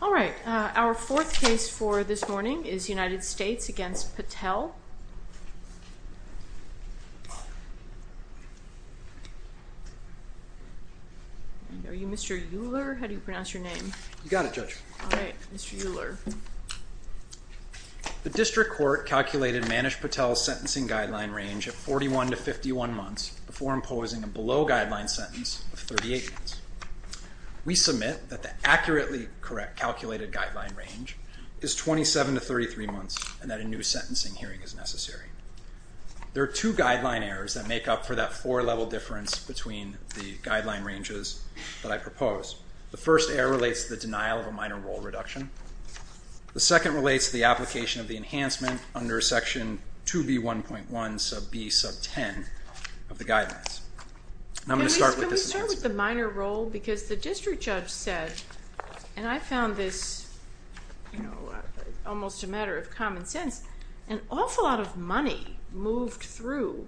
All right, our fourth case for this morning is United States v. Patel. Are you Mr. Euler, or how do you pronounce your name? You got it, Judge. All right, Mr. Euler. The district court calculated Manish Patel's sentencing guideline range of 41 to 51 months before imposing a below guideline sentence of 38 months. We submit that the accurately correct calculated guideline range is 27 to 33 months and that a new sentencing hearing is necessary. There are two guideline errors that make up for that four level difference between the guideline ranges that I propose. The first error relates to the denial of a minor role reduction. The second relates to the application of the enhancement under section 2B1.1 sub B sub 10 of the guidelines. Can we start with the minor role? Because the district judge said, and I found this almost a matter of common sense, an awful lot of money moved through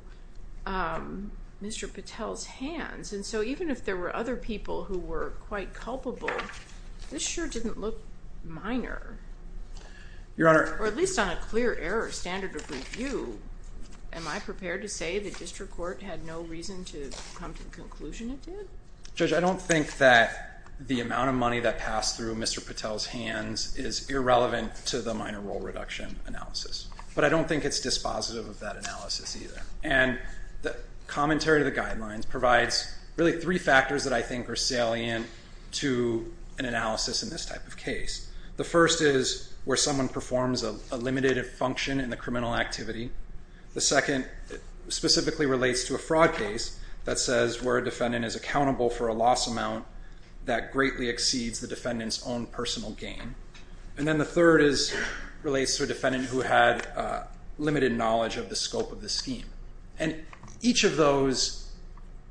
Mr. Patel's hands, and so even if there were other people who were quite culpable, this sure didn't look minor. Your Honor. Or at least on a clear error standard of review, am I prepared to say the district court had no reason to come to the conclusion it did? Judge, I don't think that the amount of money that passed through Mr. Patel's hands is irrelevant to the minor role reduction analysis, but I don't think it's dispositive of that analysis either. And the commentary to the guidelines provides really three factors that I think are salient to an analysis in this type of case. The first is where someone performs a limited function in the criminal activity. The second specifically relates to a fraud case that says where a defendant is accountable for a loss amount that greatly exceeds the defendant's own personal gain. And then the third relates to a defendant who had limited knowledge of the scope of the scheme. And each of those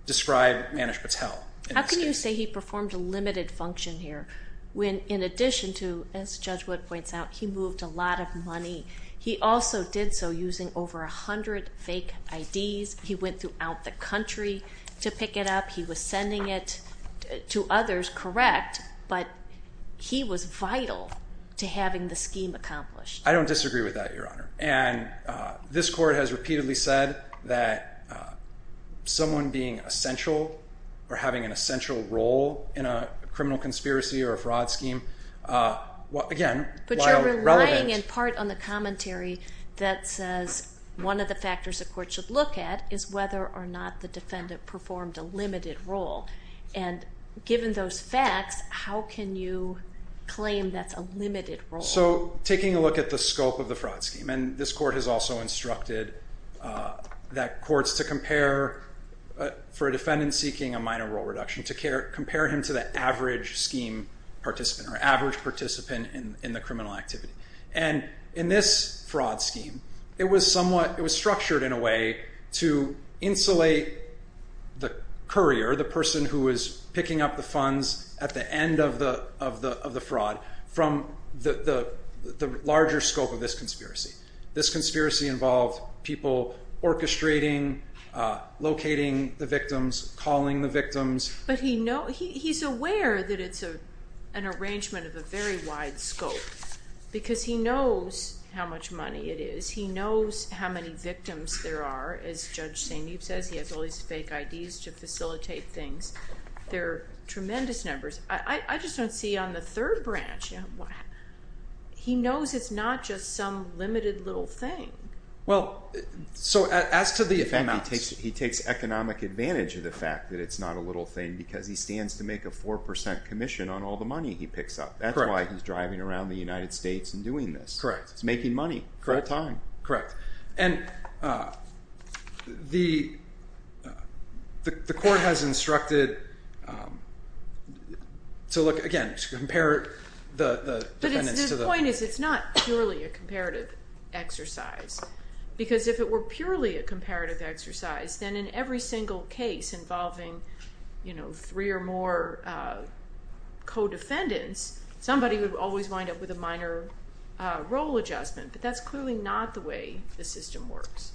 describe Manish Patel. How can you say he performed a limited function here when in addition to, as Judge Wood points out, he moved a lot of money? He also did so using over 100 fake IDs. He went throughout the country to pick it up. He was sending it to others, correct, but he was vital to having the scheme accomplished. I don't disagree with that, Your Honor. And this court has repeatedly said that someone being essential or having an essential role in a criminal conspiracy or a fraud scheme, again, while relevant. But coming in part on the commentary that says one of the factors a court should look at is whether or not the defendant performed a limited role. And given those facts, how can you claim that's a limited role? So taking a look at the scope of the fraud scheme, and this court has also instructed that courts to compare for a defendant seeking a minor role reduction, to compare him to the average scheme participant or average participant in the criminal activity. And in this fraud scheme, it was structured in a way to insulate the courier, the person who was picking up the funds at the end of the fraud, This conspiracy involved people orchestrating, locating the victims, calling the victims. But he's aware that it's an arrangement of a very wide scope because he knows how much money it is. He knows how many victims there are. As Judge St. Neve says, he has all these fake IDs to facilitate things. There are tremendous numbers. I just don't see on the third branch. He knows it's not just some limited little thing. Well, so as to the effect... He takes economic advantage of the fact that it's not a little thing because he stands to make a 4% commission on all the money he picks up. That's why he's driving around the United States and doing this. He's making money all the time. Correct. And the court has instructed to look, again, to compare the defendants to the... But his point is it's not purely a comparative exercise because if it were purely a comparative exercise, then in every single case involving three or more co-defendants, somebody would always wind up with a minor role adjustment. But that's clearly not the way the system works.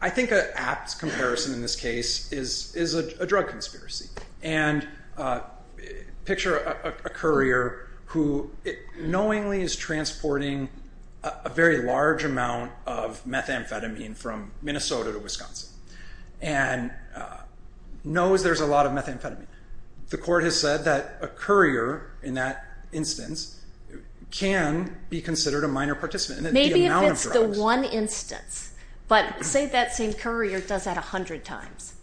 I think an apt comparison in this case is a drug conspiracy. And picture a courier who knowingly is transporting a very large amount of methamphetamine from Minnesota to Wisconsin and knows there's a lot of methamphetamine. The court has said that a courier, in that instance, can be considered a minor participant. Maybe if it's the one instance. But say that same courier does that 100 times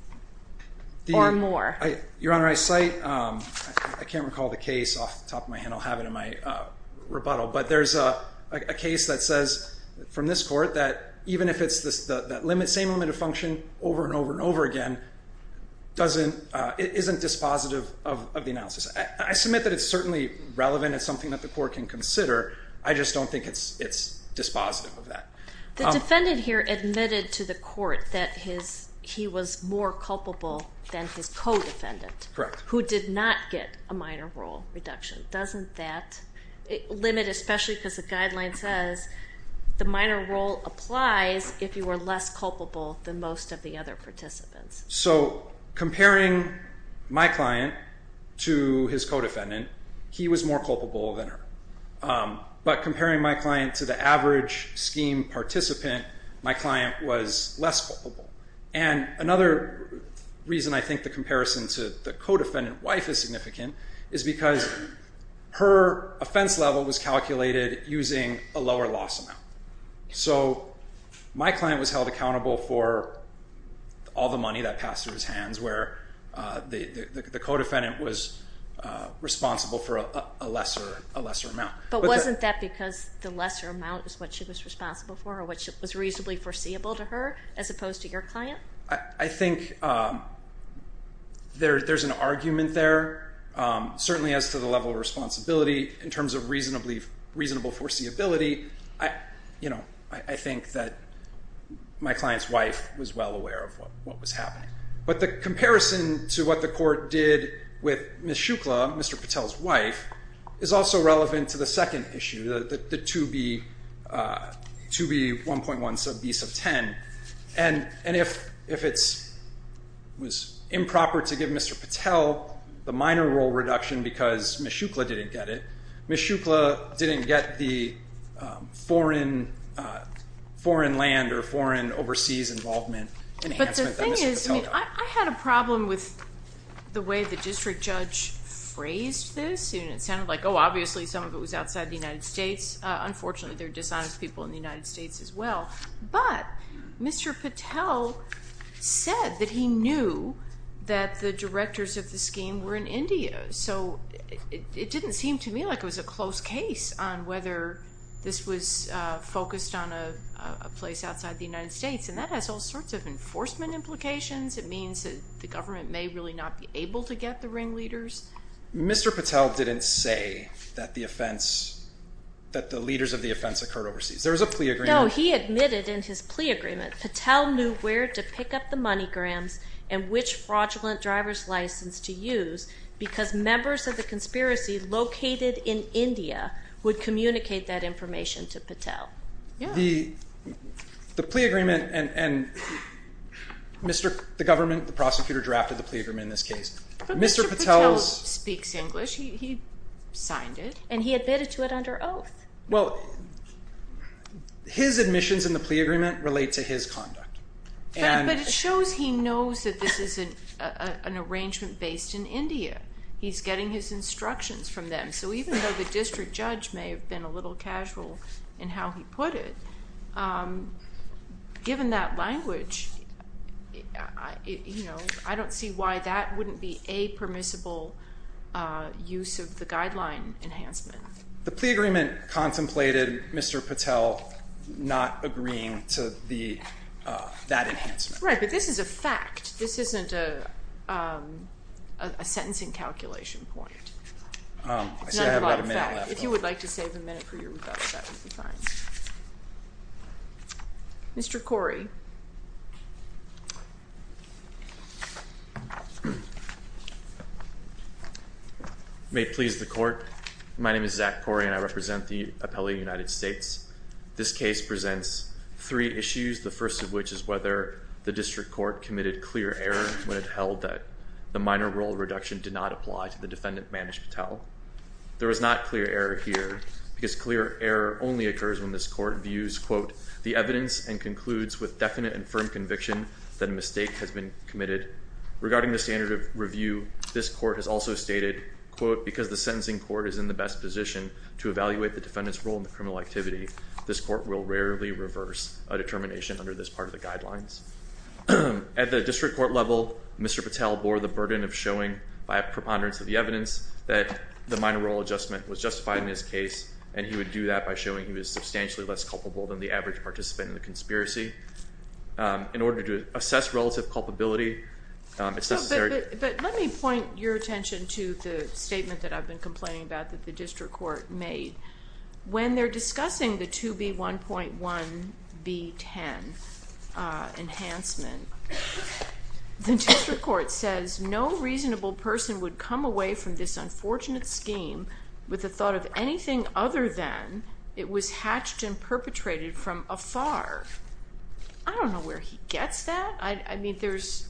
or more. Your Honor, I cite... I can't recall the case off the top of my head. I'll have it in my rebuttal. But there's a case that says from this court that even if it's the same limited function over and over and over again, it isn't dispositive of the analysis. I submit that it's certainly relevant. It's something that the court can consider. I just don't think it's dispositive of that. The defendant here admitted to the court that he was more culpable than his co-defendant... Correct. ...who did not get a minor role reduction. Doesn't that limit, especially because the guideline says the minor role applies if you were less culpable than most of the other participants? So comparing my client to his co-defendant, he was more culpable than her. But comparing my client to the average scheme participant, my client was less culpable. And another reason I think the comparison to the co-defendant wife is significant is because her offense level was calculated using a lower loss amount. So my client was held accountable for all the money that passed through his hands where the co-defendant was responsible for a lesser amount. But wasn't that because the lesser amount was what she was responsible for or what was reasonably foreseeable to her as opposed to your client? I think there's an argument there, certainly as to the level of responsibility in terms of reasonable foreseeability. I think that my client's wife was well aware of what was happening. But the comparison to what the court did with Ms. Shukla, Mr. Patel's wife, is also relevant to the second issue, the 2B1.1 sub B sub 10. And if it was improper to give Mr. Patel the minor role reduction because Ms. Shukla didn't get it, it would create foreign land or foreign overseas involvement. But the thing is, I had a problem with the way the district judge phrased this. It sounded like, oh, obviously some of it was outside the United States. Unfortunately, there are dishonest people in the United States as well. But Mr. Patel said that he knew that the directors of the scheme were in India. So it didn't seem to me like it was a close case on whether this was focused on a place outside the United States. And that has all sorts of enforcement implications. It means that the government may really not be able to get the ringleaders. Mr. Patel didn't say that the offense, that the leaders of the offense occurred overseas. There was a plea agreement. No, he admitted in his plea agreement, Patel knew where to pick up the money grams and which fraudulent driver's license to use because members of the conspiracy located in India would communicate that information to Patel. The plea agreement and the government, the prosecutor drafted the plea agreement in this case. But Mr. Patel speaks English. He signed it. And he admitted to it under oath. Well, his admissions in the plea agreement relate to his conduct. But it shows he knows that this is an arrangement based in India. He's getting his instructions from them. So even though the district judge may have been a little casual in how he put it, given that language, I don't see why that wouldn't be a permissible use of the guideline enhancement. The plea agreement contemplated Mr. Patel not agreeing to that enhancement. Right. But this is a fact. This isn't a sentencing calculation point. I see I have about a minute left. If you would like to save a minute for your rebuttal, that would be fine. Mr. Corey. May it please the court. My name is Zach Corey, and I represent the appellee of the United States. This case presents three issues, the first of which is whether the district court committed clear error when it held that the minor role reduction did not apply to the defendant, Manish Patel. There was not clear error here, because clear error only occurs when this court views, quote, the evidence and concludes with definite and firm conviction that a mistake has been committed. Regarding the standard of review, this court has also stated, quote, because the sentencing court is in the best position to evaluate the defendant's role in the criminal activity, this court will rarely reverse a determination under this part of the guidelines. At the district court level, Mr. Patel bore the burden of showing by a preponderance of the evidence that the minor role adjustment was justified in his case, and he would do that by showing he was substantially less culpable than the average participant in the conspiracy. In order to assess relative culpability, it's necessary. But let me point your attention to the statement that I've been complaining about that the district court made. When they're discussing the 2B1.1B10 enhancement, the district court says, no reasonable person would come away from this unfortunate scheme with the other than it was hatched and perpetrated from afar. I don't know where he gets that. I mean, there's.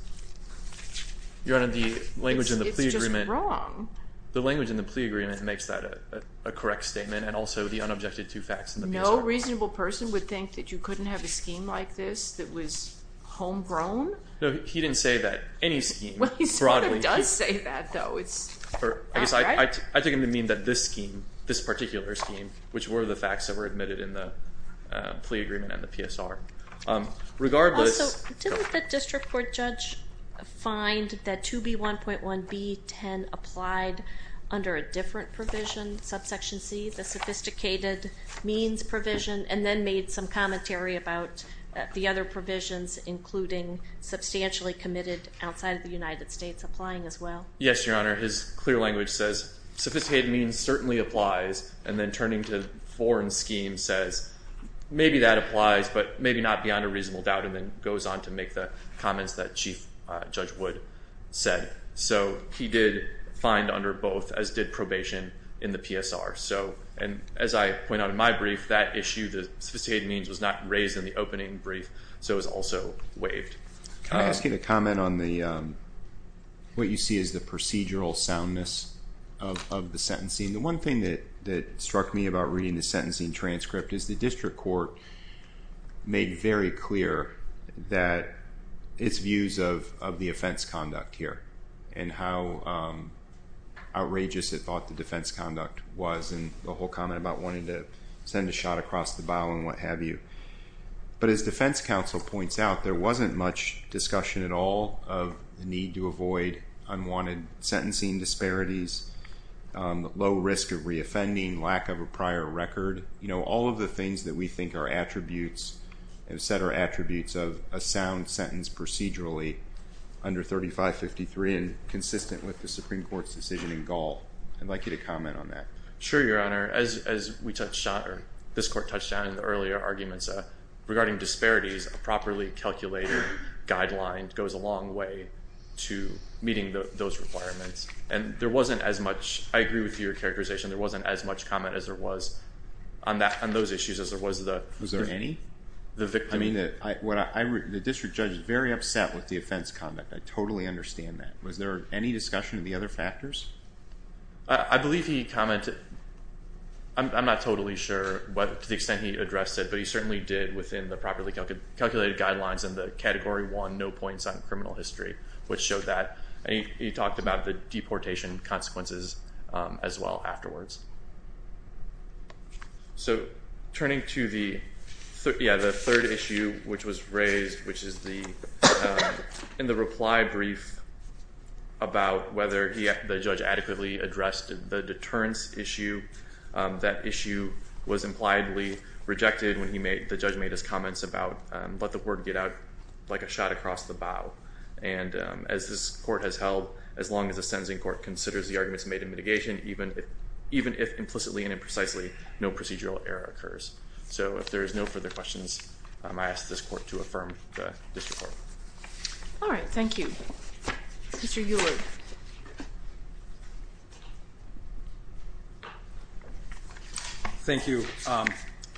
Your Honor, the language in the plea agreement. It's just wrong. The language in the plea agreement makes that a correct statement, and also the unobjected two facts in the PSR. No reasonable person would think that you couldn't have a scheme like this that was homegrown? No, he didn't say that. Any scheme. Well, he sort of does say that, though. I took him to mean that this scheme, this particular scheme, which were the facts that were admitted in the plea agreement and the PSR. Also, didn't the district court judge find that 2B1.1B10 applied under a different provision, subsection C, the sophisticated means provision, and then made some commentary about the other provisions, including substantially committed outside of the United States, applying as well? Yes, Your Honor. His clear language says sophisticated means certainly applies, and then turning to foreign schemes says maybe that applies, but maybe not beyond a reasonable doubt, and then goes on to make the comments that Chief Judge Wood said. So he did find under both, as did probation in the PSR. And as I point out in my brief, that issue, the sophisticated means was not raised in the opening brief, so it was also waived. Can I ask you to comment on what you see as the procedural soundness of the sentencing? The one thing that struck me about reading the sentencing transcript is the district court made very clear that its views of the offense conduct here, and how outrageous it thought the defense conduct was, and the whole comment about wanting to send a shot across the bow and what have you. But as defense counsel points out, there wasn't much discussion at all of the need to avoid unwanted sentencing disparities, low risk of reoffending, lack of a prior record. All of the things that we think are attributes, have set our attributes of a sound sentence procedurally under 3553, and consistent with the Supreme Court's decision in Gaul. I'd like you to comment on that. Sure, Your Honor. As this court touched on in the earlier arguments regarding disparities, a properly calculated guideline goes a long way to meeting those requirements. And there wasn't as much, I agree with your characterization, there wasn't as much comment as there was on those issues as there was the victim. Was there any? The district judge is very upset with the offense conduct. I totally understand that. Was there any discussion of the other factors? I believe he commented. I'm not totally sure to the extent he addressed it, but he certainly did within the properly calculated guidelines in the category one no points on criminal history, which showed that. He talked about the deportation consequences as well afterwards. So turning to the third issue which was raised, which is in the reply brief about whether the judge adequately addressed the deterrence issue, that issue was impliedly rejected when the judge made his comments about let the word get out like a shot across the bow. And as this court has held, as long as the sentencing court considers the arguments made in mitigation, even if implicitly and imprecisely, no procedural error occurs. So if there is no further questions, I ask this court to affirm the district court. All right. Thank you. Mr. Euler. Thank you.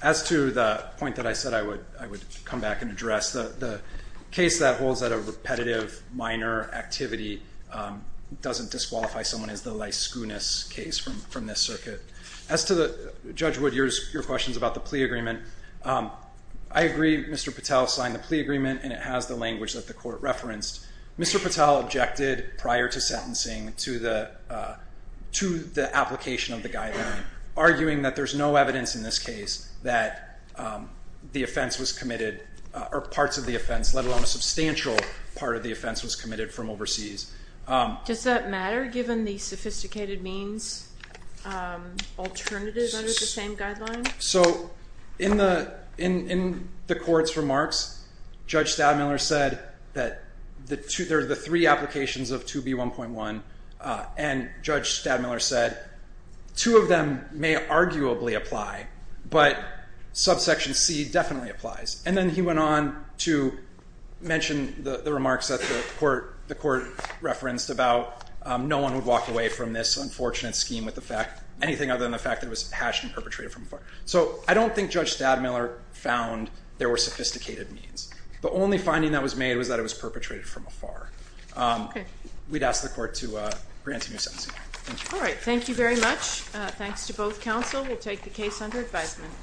As to the point that I said, I would, I would come back and address the, the case that holds that a repetitive minor activity doesn't disqualify someone as the liceness case from, from this circuit as to the judge. Your questions about the plea agreement. I agree. Mr. Patel signed the plea agreement and it has the language that the court referenced. Mr. Patel objected prior to sentencing to the, to the application of the guideline, arguing that there's no evidence in this case that the offense was committed or parts of the offense, let alone a substantial part of the offense was committed from overseas. Does that matter? Given the sophisticated means alternative under the same guideline. So in the, in, in the court's remarks, judge Stadmiller said that the two, there's the three applications of 2B1.1 and judge Stadmiller said two of them may arguably apply, but subsection C definitely applies. And then he went on to mention the remarks that the court, the court referenced about no one would walk away from this unfortunate scheme with the fact, anything other than the fact that it was hashed and perpetrated from afar. So I don't think judge Stadmiller found there were sophisticated means, but only finding that was made was that it was perpetrated from afar. Okay. We'd ask the court to grant a new sentencing. All right. Thank you very much. Thanks to both counsel. We'll take the case under advisement.